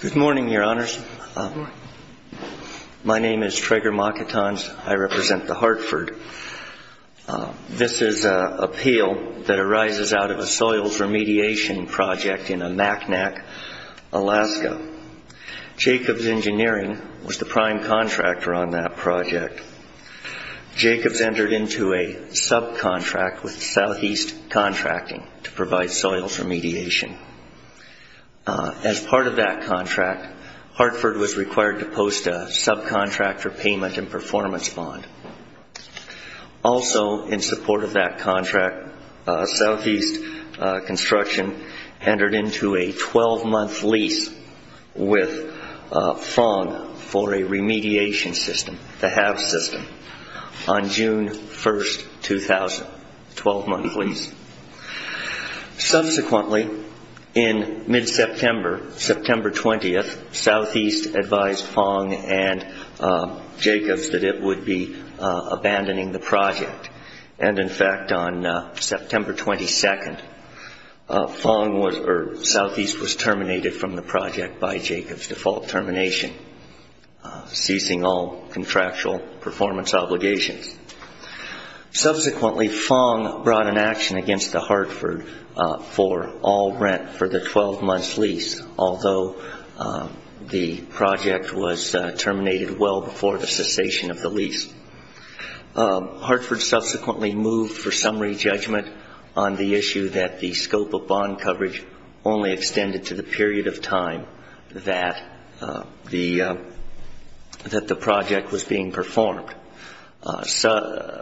Good morning Your Honors. My name is Traeger Mockatons. I represent The Hartford. I'm a This is an appeal that arises out of a soils remediation project in a MacNac, Alaska. Jacobs Engineering was the prime contractor on that project. Jacobs entered into a subcontract with Southeast Contracting to provide soils remediation. As part of that contract, Hartford was required to post a subcontractor payment and performance bond. Also, in support of that contract, Southeast Construction entered into a 12-month lease with Fong for a remediation system, the HAVS system, on June 1, 2000. Subsequently, in mid-September, September 20th, Southeast advised Fong and Jacobs that it would be abandoning the project. In fact, on September 22nd, Southeast was terminated from the project by Jacobs' default termination, ceasing all contractual performance obligations. Subsequently, Fong brought an action against the Hartford for all rent for the 12-month lease, although the project was terminated well before the cessation of the lease. Hartford subsequently moved for summary judgment on the issue that the scope of bond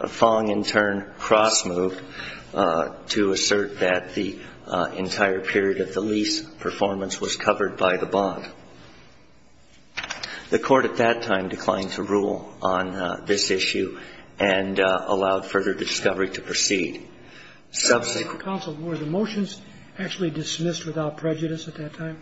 Fong, in turn, cross-moved to assert that the entire period of the lease performance was covered by the bond. The Court at that time declined to rule on this issue and allowed further discovery to proceed. Subsequent Counsel, were the motions actually dismissed without prejudice at that time?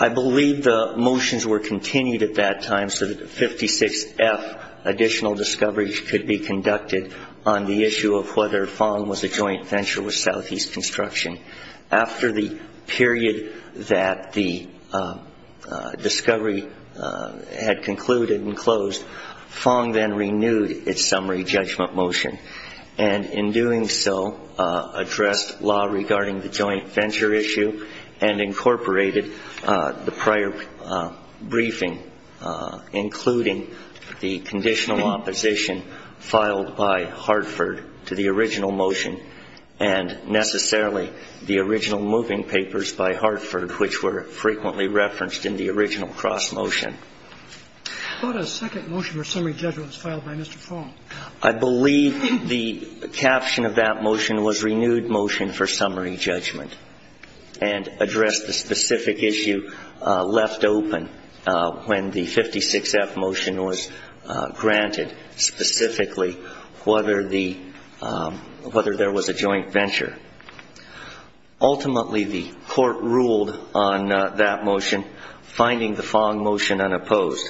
I believe the motions were continued at that time so that a 56-F additional discovery could be conducted on the issue of whether Fong was a joint venture with Southeast Construction. After the period that the discovery had concluded and closed, Fong then renewed its summary judgment motion and, in doing so, addressed law regarding the joint venture issue and incorporated the prior briefing, including the conditional opposition filed by Hartford to the original motion and necessarily the original moving papers by Hartford, which were frequently referenced in the original cross-motion. But a second motion for summary judgment was filed by Mr. Fong. I believe the caption of that motion was renewed motion for summary judgment and addressed the specific issue left open when the 56-F motion was granted specifically whether the – whether there was a joint venture. Ultimately, the Court ruled on that motion, finding the Fong motion unopposed.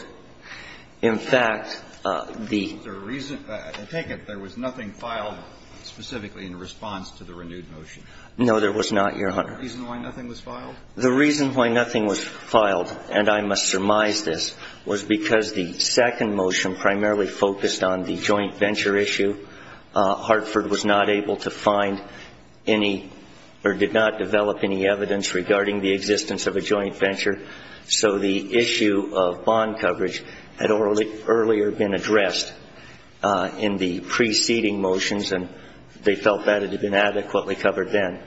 In fact, the – Is there a reason – I take it there was nothing filed specifically in response to the renewed motion. No, there was not, Your Honor. Is there a reason why nothing was filed? The reason why nothing was filed, and I must surmise this, was because the second motion primarily focused on the joint venture issue. Hartford was not able to find any – or did not develop any evidence regarding the existence of a joint venture. So the issue of bond coverage had earlier been addressed in the preceding motions, and they felt that it had been adequately covered then.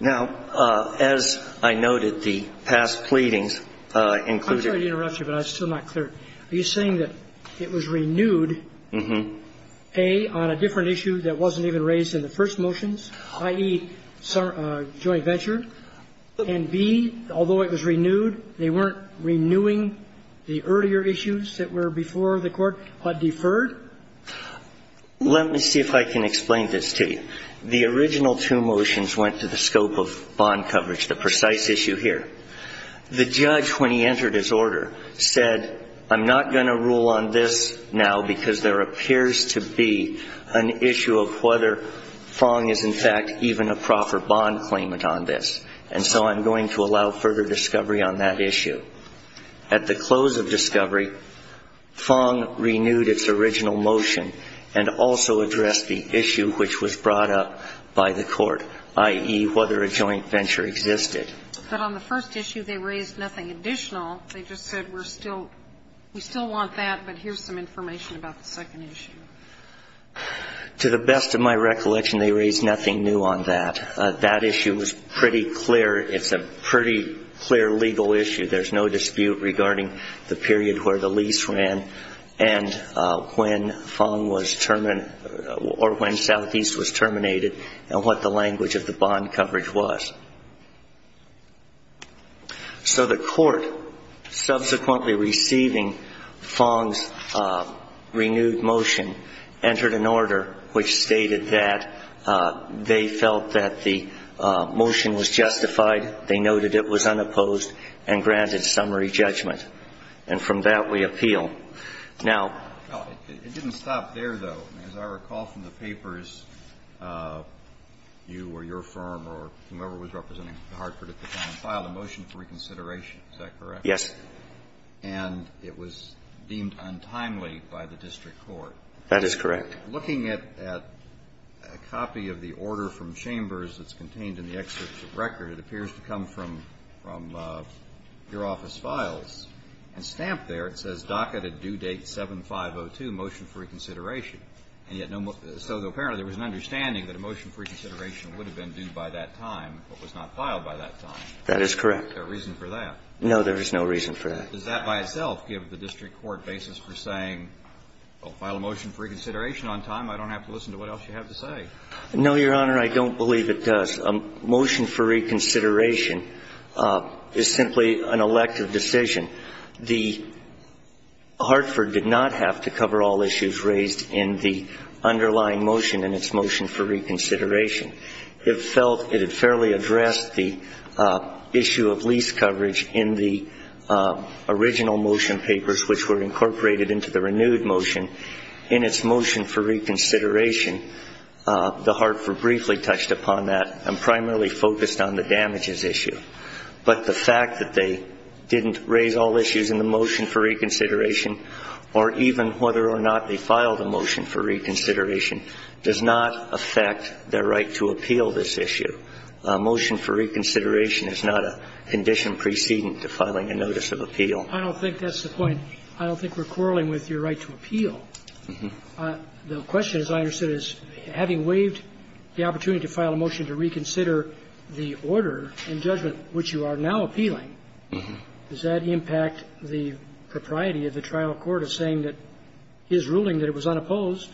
Now, as I noted, the past pleadings included – I'm sorry to interrupt you, but I was still not clear. Are you saying that it was renewed, A, on a different issue that wasn't even raised in the first motions, i.e., joint venture, and, B, although it was renewed, they weren't renewing the earlier issues that were before the Court but deferred? Let me see if I can explain this to you. The original two motions went to the scope of bond coverage, the precise issue here. The judge, when he entered his order, said, I'm not going to rule on this now because there appears to be an issue of whether Fong is in fact even a proper bond claimant on this, and so I'm going to allow further discovery on that issue. At the close of discovery, Fong renewed its original motion and also addressed the issue which was brought up by the Court, i.e., whether a joint venture existed. But on the first issue, they raised nothing additional. They just said we're still – we still want that, but here's some information about the second issue. To the best of my recollection, they raised nothing new on that. That issue was pretty clear. It's a pretty clear legal issue. There's no dispute regarding the period where the lease ran and when Fong was – or when Southeast was terminated and what the language of the bond coverage was. So the Court, subsequently receiving Fong's renewed motion, entered an order which stated that they felt that the motion was justified. They noted it was unopposed and granted summary judgment. And from that, we appeal. Now – It didn't stop there, though. As I recall from the papers, you or your firm or whomever was representing Hartford at the time filed a motion for reconsideration. Is that correct? Yes. And it was deemed untimely by the district court. That is correct. Looking at a copy of the order from Chambers that's contained in the excerpt of record, it appears to come from your office files. And stamped there, it says DACA to due date 7502, motion for reconsideration. And yet no – so apparently there was an understanding that a motion for reconsideration would have been due by that time but was not filed by that time. That is correct. Is there a reason for that? No, there is no reason for that. Does that by itself give the district court basis for saying, well, file a motion for reconsideration on time, I don't have to listen to what else you have to say? No, Your Honor. I don't believe it does. A motion for reconsideration is simply an elective decision. The – Hartford did not have to cover all issues raised in the underlying motion in its motion for reconsideration. It felt it had fairly addressed the issue of lease coverage in the original motion papers, which were incorporated into the renewed motion. In its motion for reconsideration, the Hartford briefly touched upon that and primarily focused on the damages issue. But the fact that they didn't raise all issues in the motion for reconsideration or even whether or not they filed a motion for reconsideration does not affect their right to appeal this issue. A motion for reconsideration is not a condition preceding to filing a notice of appeal. I don't think that's the point. I don't think we're quarreling with your right to appeal. The question, as I understand it, is having waived the opportunity to file a motion to reconsider the order in judgment which you are now appealing, does that impact the propriety of the trial court of saying that his ruling that it was unopposed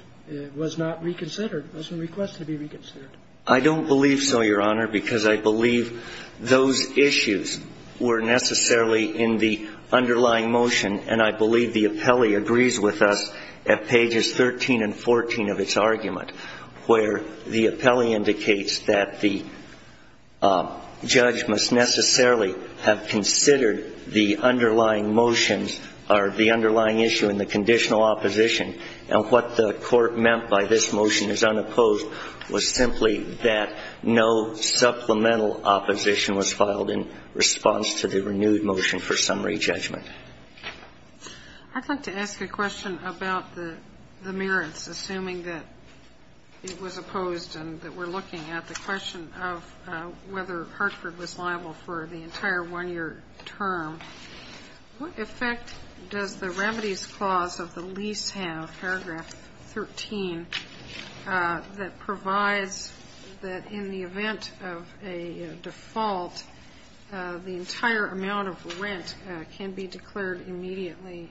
was not reconsidered, wasn't requested to be reconsidered? I don't believe so, Your Honor, because I believe those issues were necessarily in the underlying motion. And I believe the appellee agrees with us at pages 13 and 14 of its argument, where the appellee indicates that the judge must necessarily have considered the underlying motions or the underlying issue in the conditional opposition. And what the court meant by this motion is unopposed was simply that no supplemental opposition was filed in response to the renewed motion for summary judgment. I'd like to ask a question about the merits, assuming that it was opposed and that we're looking at the question of whether Hartford was liable for the entire 1-year term. What effect does the remedies clause of the lease have, paragraph 13, that provides that in the event of a default, the entire amount of rent can be declared immediately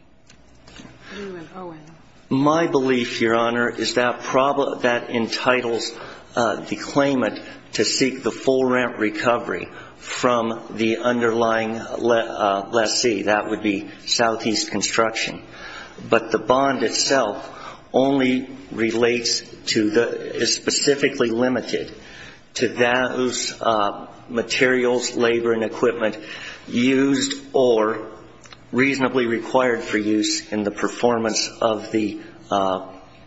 due and owing? My belief, Your Honor, is that that entitles the claimant to seek the full rent recovery from the underlying lessee. That would be Southeast Construction. But the bond itself only relates to the ñ is specifically limited to those materials, labor and equipment used or reasonably required for use in the performance of the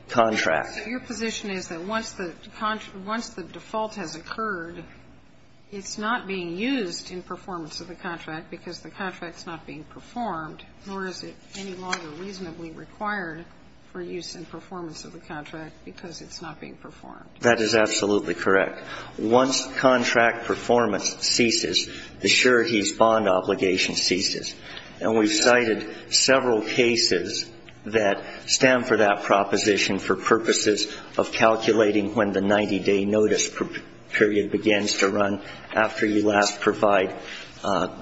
contract. So your position is that once the default has occurred, it's not being used in performance of the contract because the contract's not being performed, nor is it any longer reasonably required for use in performance of the contract because it's not being performed. That is absolutely correct. Once contract performance ceases, the surety's bond obligation ceases. And we've cited several cases that stand for that proposition for purposes of calculating when the 90-day notice period begins to run after you last provide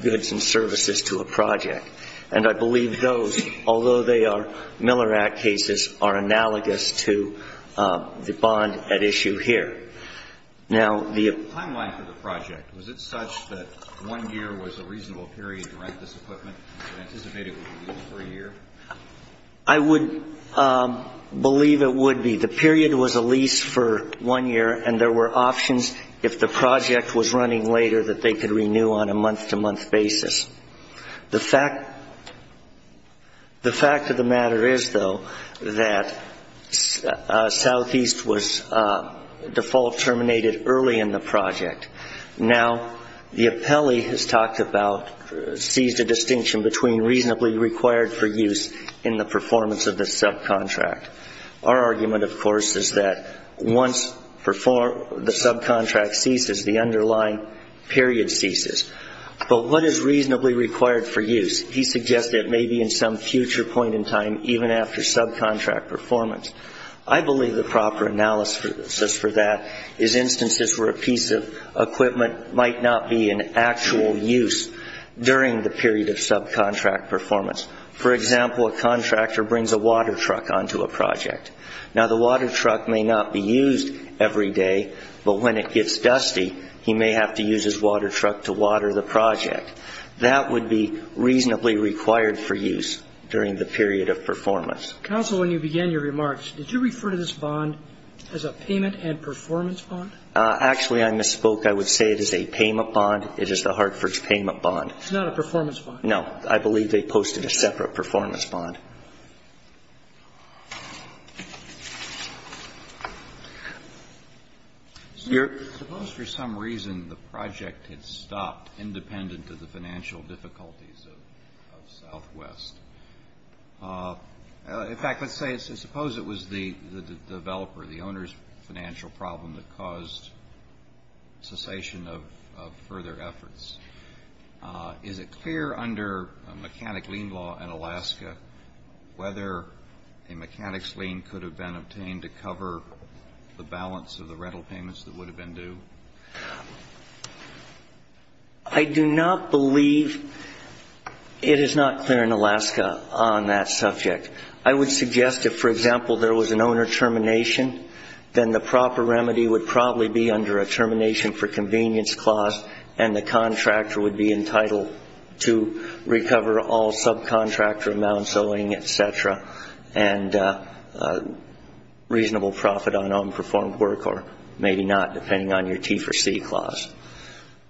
goods and services to a project. And I believe those, although they are Miller Act cases, are analogous to the bond at issue here. Now, the ñ The timeline for the project, was it such that one year was a reasonable period to rent this equipment and anticipated it would be used for a year? I would believe it would be. The period was a lease for one year, and there were options, if the project was running later, that they could renew on a month-to-month basis. The fact of the matter is, though, that Southeast was default terminated early in the project. Now, the appellee has talked about ñ seized a distinction between reasonably required for use in the performance of the subcontract. Our argument, of course, is that once the subcontract ceases, the underlying period ceases. But what is reasonably required for use? He suggests that it may be in some future point in time, even after subcontract performance. I believe the proper analysis for that is instances where a piece of equipment might not be in actual use during the period of subcontract performance. For example, a contractor brings a water truck onto a project. Now, the water truck may not be used every day, but when it gets dusty, he may have to use his water truck to water the project. That would be reasonably required for use during the period of performance. Counsel, when you began your remarks, did you refer to this bond as a payment and performance bond? Actually, I misspoke. I would say it is a payment bond. It is the Hartford Payment Bond. It's not a performance bond? No. I believe they posted a separate performance bond. Suppose for some reason the project had stopped independent of the financial difficulties of Southwest. In fact, let's say, suppose it was the developer, the owner's financial problem that caused cessation of further efforts. Is it clear under mechanic lien law in Alaska whether a mechanic's lien could have been obtained to cover the balance of the rental payments that would have been due? I do not believe it is not clear in Alaska on that subject. I would suggest if, for example, there was an owner termination, then the proper remedy would probably be under a termination for convenience clause and the contractor would be entitled to recover all subcontractor amounts, owing, et cetera, and reasonable profit on unperformed work or maybe not, depending on your T4C clause.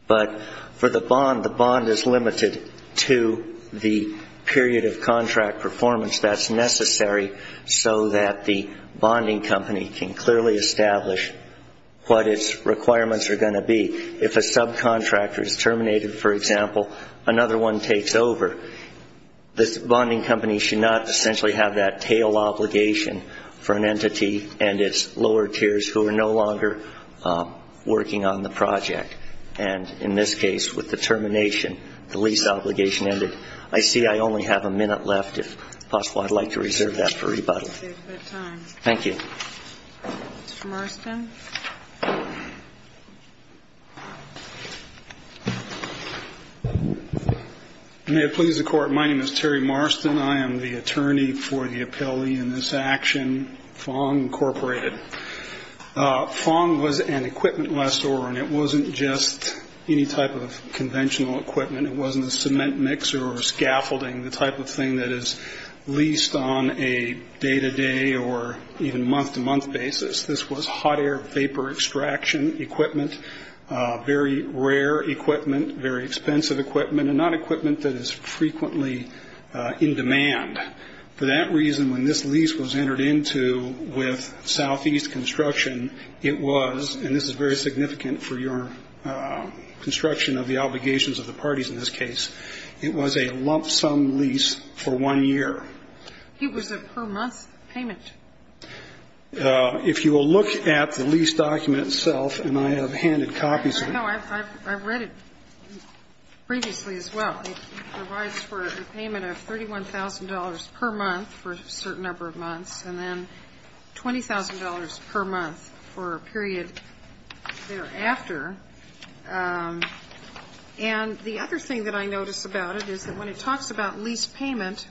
But for the bond, the bond is limited to the period of contract performance that's necessary so that the bonding company can clearly establish what its requirements are going to be. If a subcontractor is terminated, for example, another one takes over, this bonding company should not essentially have that tail obligation for an entity and its lower tiers who are no longer working on the project. And in this case, with the termination, the lease obligation ended. I see I only have a minute left. If possible, I'd like to reserve that for rebuttal. Thank you. Mr. Marston. May it please the Court, my name is Terry Marston. I am the attorney for the appellee in this action, Fong Incorporated. Fong was an equipment lessor and it wasn't just any type of conventional equipment. It wasn't a cement mixer or scaffolding, the type of thing that is leased on a day-to-day or even month-to-month basis. This was hot air vapor extraction equipment, very rare equipment, very expensive equipment, and not equipment that is frequently in demand. For that reason, when this lease was entered into with Southeast Construction, it was, and this is very significant for your construction of the obligations of the parties in this case, it was a lump sum lease for one year. It was a per month payment. If you will look at the lease document itself, and I have handed copies of it. No, I've read it previously as well. It provides for a payment of $31,000 per month for a certain number of months, and then $20,000 per month for a period thereafter. And the other thing that I notice about it is that when it talks about lease payment,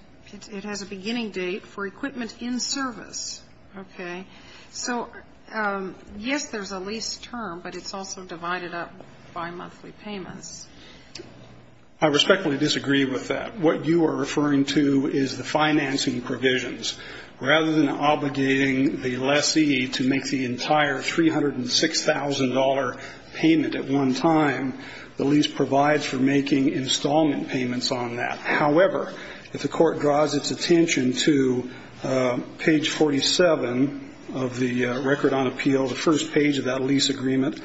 it has a beginning date for equipment in service. Okay. So, yes, there's a lease term, but it's also divided up by monthly payments. I respectfully disagree with that. What you are referring to is the financing provisions. Rather than obligating the lessee to make the entire $306,000 payment at one time, the lease provides for making installment payments on that. However, if the court draws its attention to page 47 of the record on appeal, the first page of that lease agreement,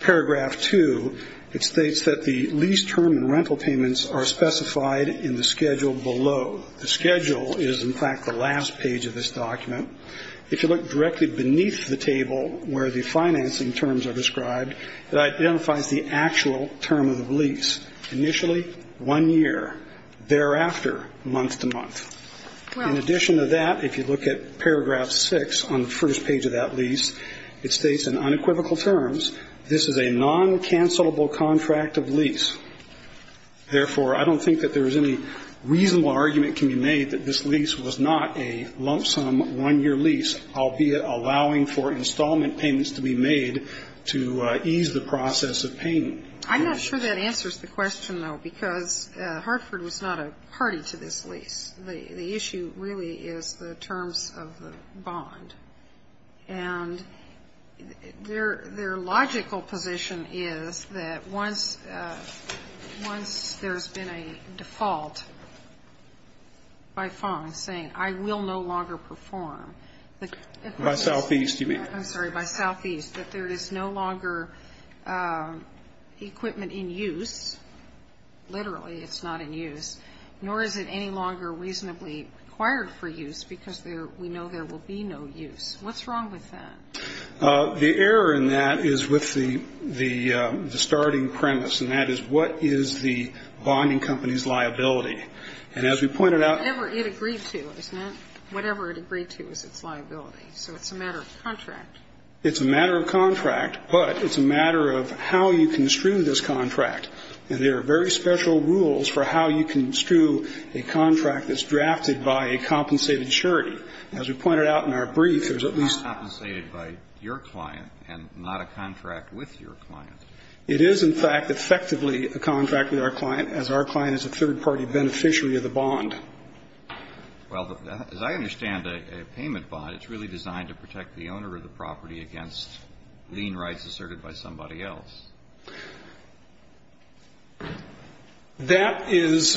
paragraph 2, it states that the lease term and rental payments are specified in the schedule below. The schedule is, in fact, the last page of this document. If you look directly beneath the table where the financing terms are described, it identifies the actual term of the lease, initially one year, thereafter month to month. In addition to that, if you look at paragraph 6 on the first page of that lease, it states in unequivocal terms, this is a non-cancellable contract of lease. Therefore, I don't think that there is any reasonable argument can be made that this lease was not a lump sum one-year lease, albeit allowing for installment payments to be made to ease the process of payment. I'm not sure that answers the question, though, because Hartford was not a party to this lease. The issue really is the terms of the bond. And their logical position is that once there's been a default by Fong saying, I will no longer perform, that there is no longer equipment in use, literally, it's not in use, nor is it any longer reasonably required for use because we know there will be no use. What's wrong with that? The error in that is with the starting premise, and that is, what is the bonding company's liability? And as we pointed out ---- Whatever it agreed to, isn't it? Whatever it agreed to is its liability. So it's a matter of contract. It's a matter of contract, but it's a matter of how you construe this contract. And there are very special rules for how you construe a contract that's drafted by a compensated surety. As we pointed out in our brief, there's at least ---- Not compensated by your client and not a contract with your client. It is, in fact, effectively a contract with our client, as our client is a third-party beneficiary of the bond. Well, as I understand a payment bond, it's really designed to protect the owner of the property against lien rights asserted by somebody else. That is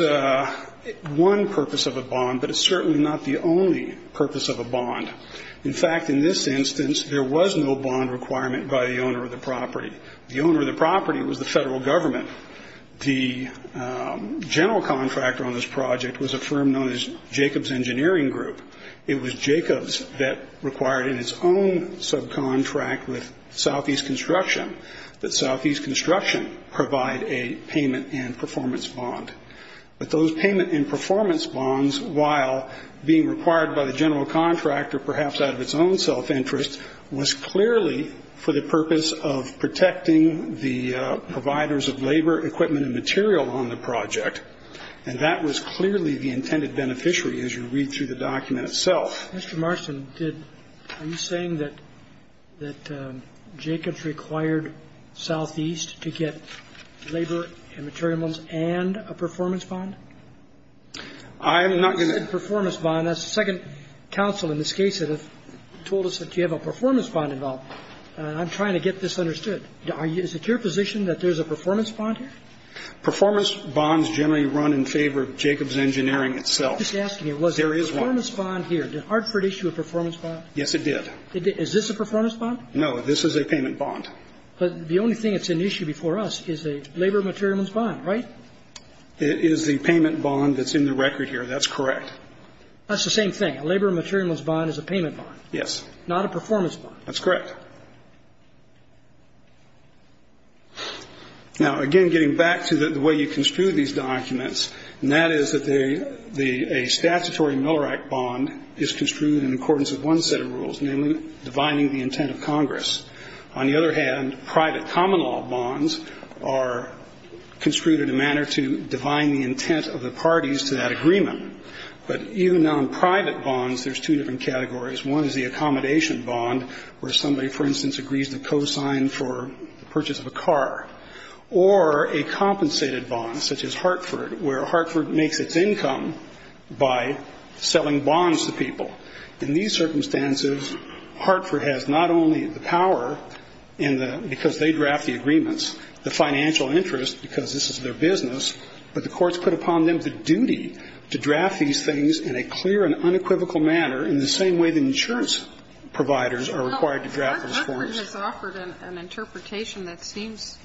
one purpose of a bond, but it's certainly not the only purpose of a bond. In fact, in this instance, there was no bond requirement by the owner of the property. The owner of the property was the Federal Government. The general contractor on this project was a firm known as Jacobs Engineering Group. It was Jacobs that required in its own subcontract with Southeast Construction that Southeast Construction provide a payment and performance bond. But those payment and performance bonds, while being required by the general contractor, perhaps out of its own self-interest, was clearly for the purpose of protecting the providers of labor, equipment, and material on the project. And that was clearly the intended beneficiary, as you read through the document itself. Mr. Marston, are you saying that Jacobs required Southeast to get labor and materials and a performance bond? I'm not going to ---- You said performance bond. That's the second counsel in this case that has told us that you have a performance bond involved. I'm trying to get this understood. Is it your position that there's a performance bond here? Performance bonds generally run in favor of Jacobs Engineering itself. I'm just asking you, was there a performance bond here? Did Hartford issue a performance bond? Yes, it did. Is this a performance bond? No. This is a payment bond. But the only thing that's an issue before us is a labor and materials bond, right? It is the payment bond that's in the record here. That's correct. That's the same thing. A labor and materials bond is a payment bond. Yes. Not a performance bond. That's correct. Now, again, getting back to the way you construed these documents, and that is that a statutory Miller Act bond is construed in accordance with one set of rules, namely divining the intent of Congress. On the other hand, private common law bonds are construed in a manner to divine the intent of the parties to that agreement. But even non-private bonds, there's two different categories. One is the accommodation bond where somebody, for instance, agrees to co-sign for the purchase of a car, or a compensated bond, such as Hartford, where Hartford makes its income by selling bonds to people. In these circumstances, Hartford has not only the power because they draft the agreements, the financial interest because this is their business, but the courts put upon them the duty to draft these things in a clear and unequivocal manner in the same way that insurance providers are required to draft those forms. Sotomayor's Court has offered an interpretation that seems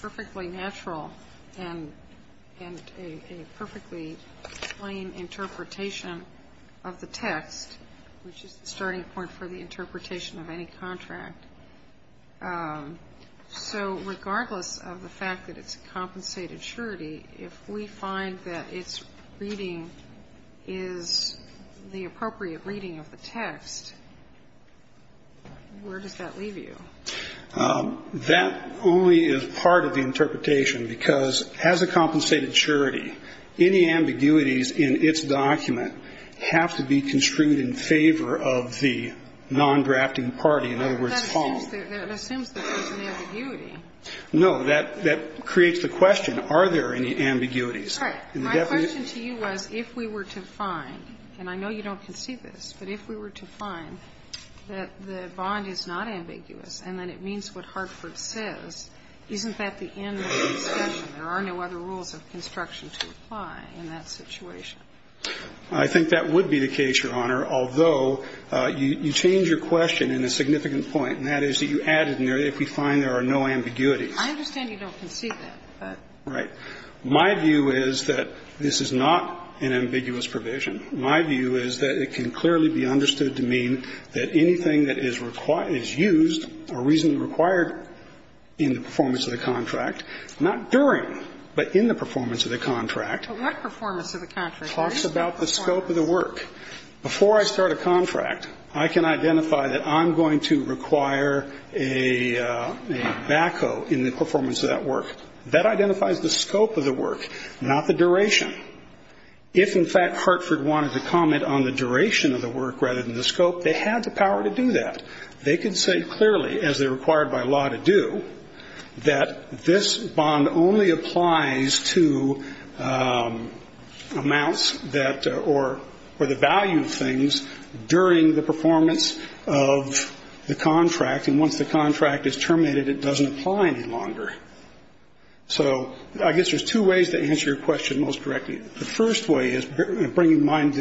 perfectly natural and a perfectly plain interpretation of the text, which is the starting point for the interpretation of any contract. So regardless of the fact that it's a compensated surety, if we find that its reading is the appropriate reading of the text, where does that leave you? That only is part of the interpretation because as a compensated surety, any ambiguities in its document have to be construed in favor of the non-drafting party, in other words, Paul. That assumes that there's an ambiguity. No. That creates the question, are there any ambiguities? My question to you was if we were to find, and I know you don't concede this, but if we were to find that the bond is not ambiguous and that it means what Hartford says, isn't that the end of the discussion? There are no other rules of construction to apply in that situation. I think that would be the case, Your Honor, although you change your question in a significant point, and that is that you added in there, if we find there are no ambiguities. I understand you don't concede that, but. Right. My view is that this is not an ambiguous provision. My view is that it can clearly be understood to mean that anything that is used or reasonably required in the performance of the contract, not during, but in the performance of the contract. But what performance of the contract? It talks about the scope of the work. Before I start a contract, I can identify that I'm going to require a backhoe in the performance of that work. That identifies the scope of the work, not the duration. If, in fact, Hartford wanted to comment on the duration of the work rather than the scope, they had the power to do that. They could say clearly, as they're required by law to do, that this bond only applies to amounts that or the value of things during the performance of the contract, and once the contract is terminated, it doesn't apply any longer. So I guess there's two ways to answer your question most correctly. The first way is bring to mind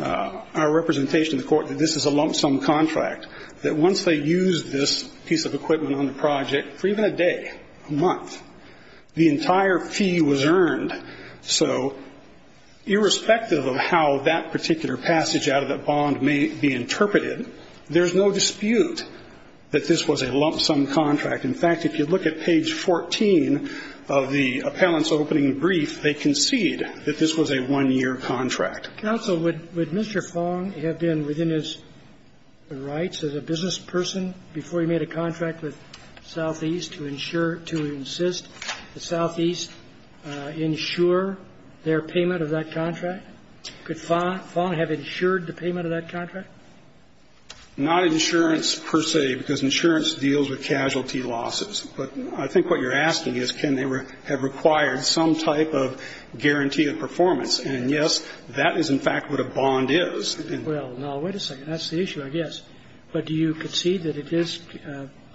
our representation in the court that this is a lump sum contract, that once they use this piece of equipment on the project for even a day, a month, the entire fee was earned. So irrespective of how that particular passage out of that bond may be interpreted, there's no dispute that this was a lump sum contract. In fact, if you look at page 14 of the appellant's opening brief, they concede that this was a one-year contract. Counsel, would Mr. Fong have been within his rights as a business person before he made a contract with Southeast to insure, to insist that Southeast insure their payment of that contract? Could Fong have insured the payment of that contract? Not insurance per se, because insurance deals with casualty losses. But I think what you're asking is can they have required some type of guarantee of performance. And, yes, that is, in fact, what a bond is. Well, now, wait a second. That's the issue, I guess. But do you concede that it is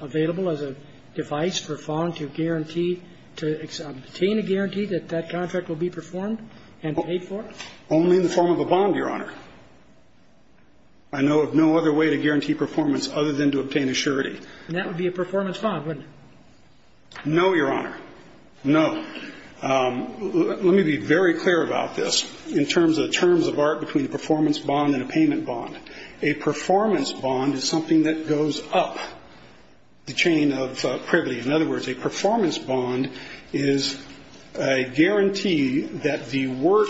available as a device for Fong to guarantee to obtain a guarantee that that contract will be performed and paid for? Only in the form of a bond, Your Honor. I know of no other way to guarantee performance other than to obtain a surety. And that would be a performance bond, wouldn't it? No, Your Honor. No. Let me be very clear about this in terms of the terms of art between a performance bond and a payment bond. A performance bond is something that goes up the chain of privilege. In other words, a performance bond is a guarantee that the work,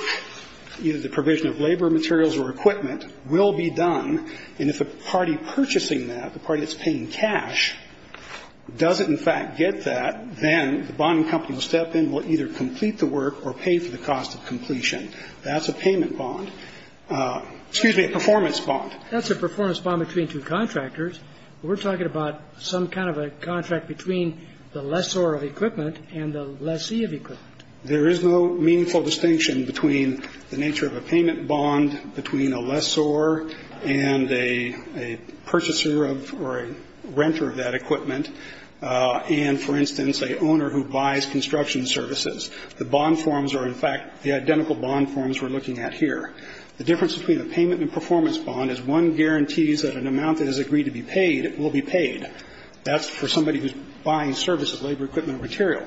either the provision of labor materials or equipment, will be done. And if a party purchasing that, the party that's paying cash, doesn't, in fact, get that, then the bonding company will step in, will either complete the work or pay for the cost of completion. That's a payment bond. Excuse me, a performance bond. That's a performance bond between two contractors. We're talking about some kind of a contract between the lessor of equipment and the lessee of equipment. There is no meaningful distinction between the nature of a payment bond, between a lessor and a purchaser of or a renter of that equipment, and, for instance, an owner who buys construction services. The bond forms are, in fact, the identical bond forms we're looking at here. The difference between a payment and performance bond is one guarantees that an amount that is agreed to be paid will be paid. That's for somebody who's buying services, labor, equipment, or material.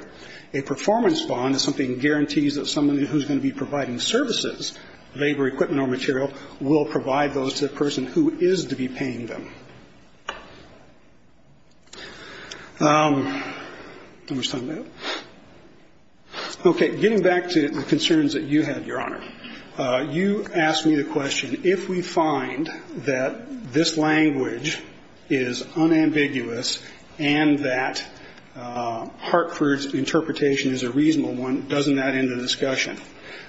A performance bond is something that guarantees that somebody who's going to be providing services, labor, equipment, or material, will provide those to the person who is to be paying them. How much time do I have? Okay. Getting back to the concerns that you had, Your Honor, you asked me the question, if we find that this language is unambiguous and that Hartford's interpretation is a reasonable one, doesn't that end the discussion?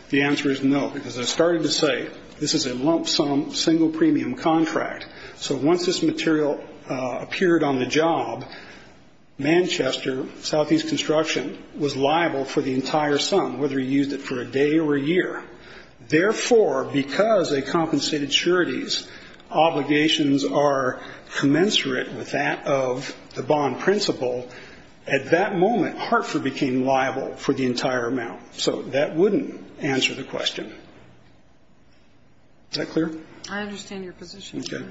The answer is no, because as I started to say, this is a lump sum, single premium contract. So once this material appeared on the job, Manchester Southeast Construction was liable for the entire sum, whether you used it for a day or a year. Therefore, because they compensated sureties, obligations are commensurate with that of the bond principle. At that moment, Hartford became liable for the entire amount. So that wouldn't answer the question. Is that clear? I understand your position. Okay.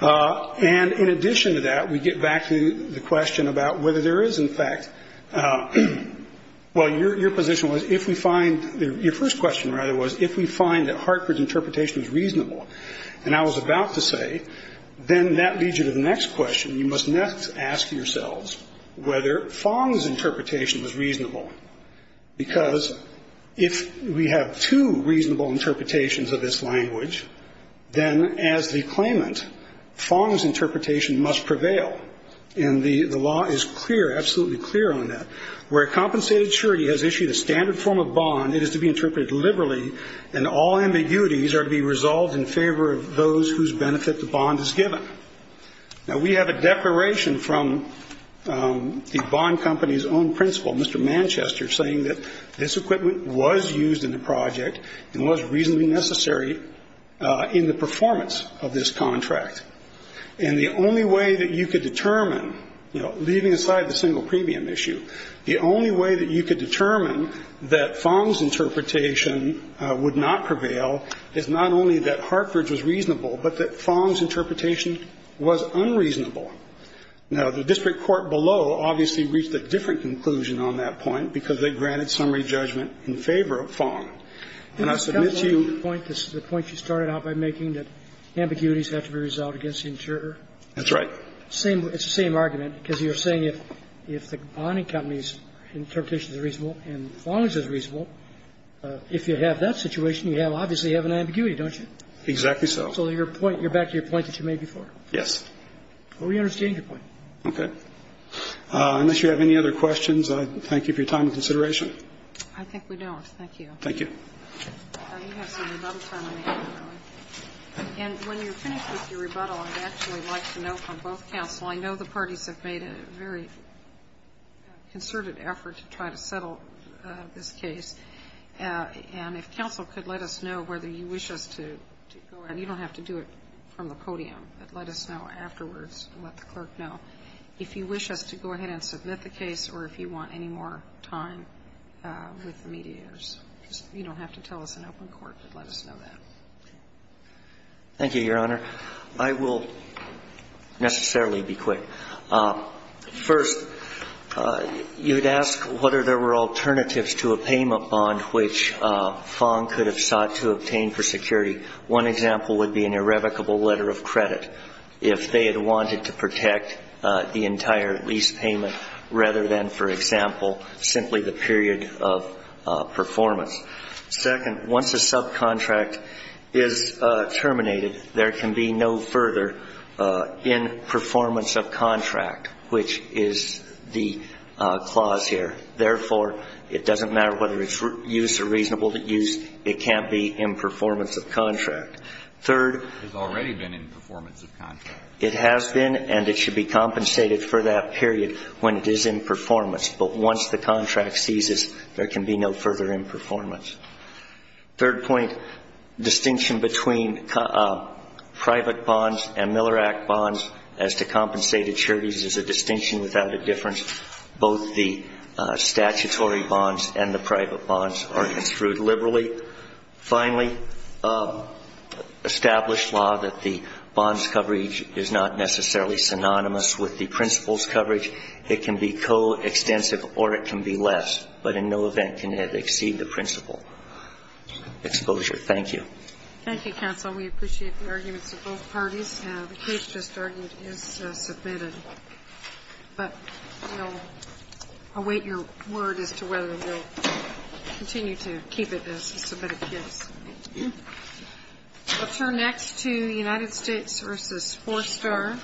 And in addition to that, we get back to the question about whether there is, in fact, well, your position was, if we find, your first question, rather, was if we find that Hartford's interpretation is reasonable, and I was about to say, then that leads you to the next question. You must next ask yourselves whether Fong's interpretation was reasonable, because if we have two reasonable interpretations of this language, then as the claimant, Fong's interpretation must prevail. And the law is clear, absolutely clear on that. Where a compensated surety has issued a standard form of bond, it is to be interpreted liberally, and all ambiguities are to be resolved in favor of those whose benefit the bond is given. Now, we have a declaration from the bond company's own principal, Mr. Manchester, saying that this equipment was used in the project and was reasonably necessary in the performance of this contract. And the only way that you could determine, you know, leaving aside the single premium issue, the only way that you could determine that Fong's interpretation would not prevail is not only that Hartford's was reasonable, but that Fong's interpretation was unreasonable. Now, the district court below obviously reached a different conclusion on that point because they granted summary judgment in favor of Fong. And I submit to you. The point you started out by making that ambiguities have to be resolved against the insurer. That's right. It's the same argument, because you're saying if the bonding company's interpretation is reasonable and Fong's is reasonable, if you have that situation, you obviously have an ambiguity, don't you? Exactly so. So you're back to your point that you made before? Yes. Well, we understand your point. Okay. Unless you have any other questions, I thank you for your time and consideration. I think we don't. Thank you. Thank you. You have some rebuttal time in the afternoon. And when you're finished with your rebuttal, I'd actually like to know from both counsel. I know the parties have made a very concerted effort to try to settle this case. And if counsel could let us know whether you wish us to go ahead. You don't have to do it from the podium, but let us know afterwards and let the clerk know if you wish us to go ahead and submit the case or if you want any more time with the mediators. You don't have to tell us in open court, but let us know that. Thank you, Your Honor. I will necessarily be quick. First, you'd ask whether there were alternatives to a payment bond which Fong could have sought to obtain for security. One example would be an irrevocable letter of credit. If they had wanted to protect the entire lease payment rather than, for example, simply the period of performance. Second, once a subcontract is terminated, there can be no further in performance of contract, which is the clause here. Therefore, it doesn't matter whether it's use or reasonable use. It can't be in performance of contract. Third. It's already been in performance of contract. It has been, and it should be compensated for that period when it is in performance. But once the contract ceases, there can be no further in performance. Third point, distinction between private bonds and Miller Act bonds as to compensated charities is a distinction without a difference. Both the statutory bonds and the private bonds are construed liberally. Finally, established law that the bonds coverage is not necessarily synonymous with the principal's coverage. It can be coextensive or it can be less, but in no event can it exceed the principal. Exposure. Thank you. Thank you, counsel. We appreciate the arguments of both parties. The case just argued is submitted. But we'll await your word as to whether we'll continue to keep it as a submitted case. Thank you. We'll turn next to United States v. Four Star.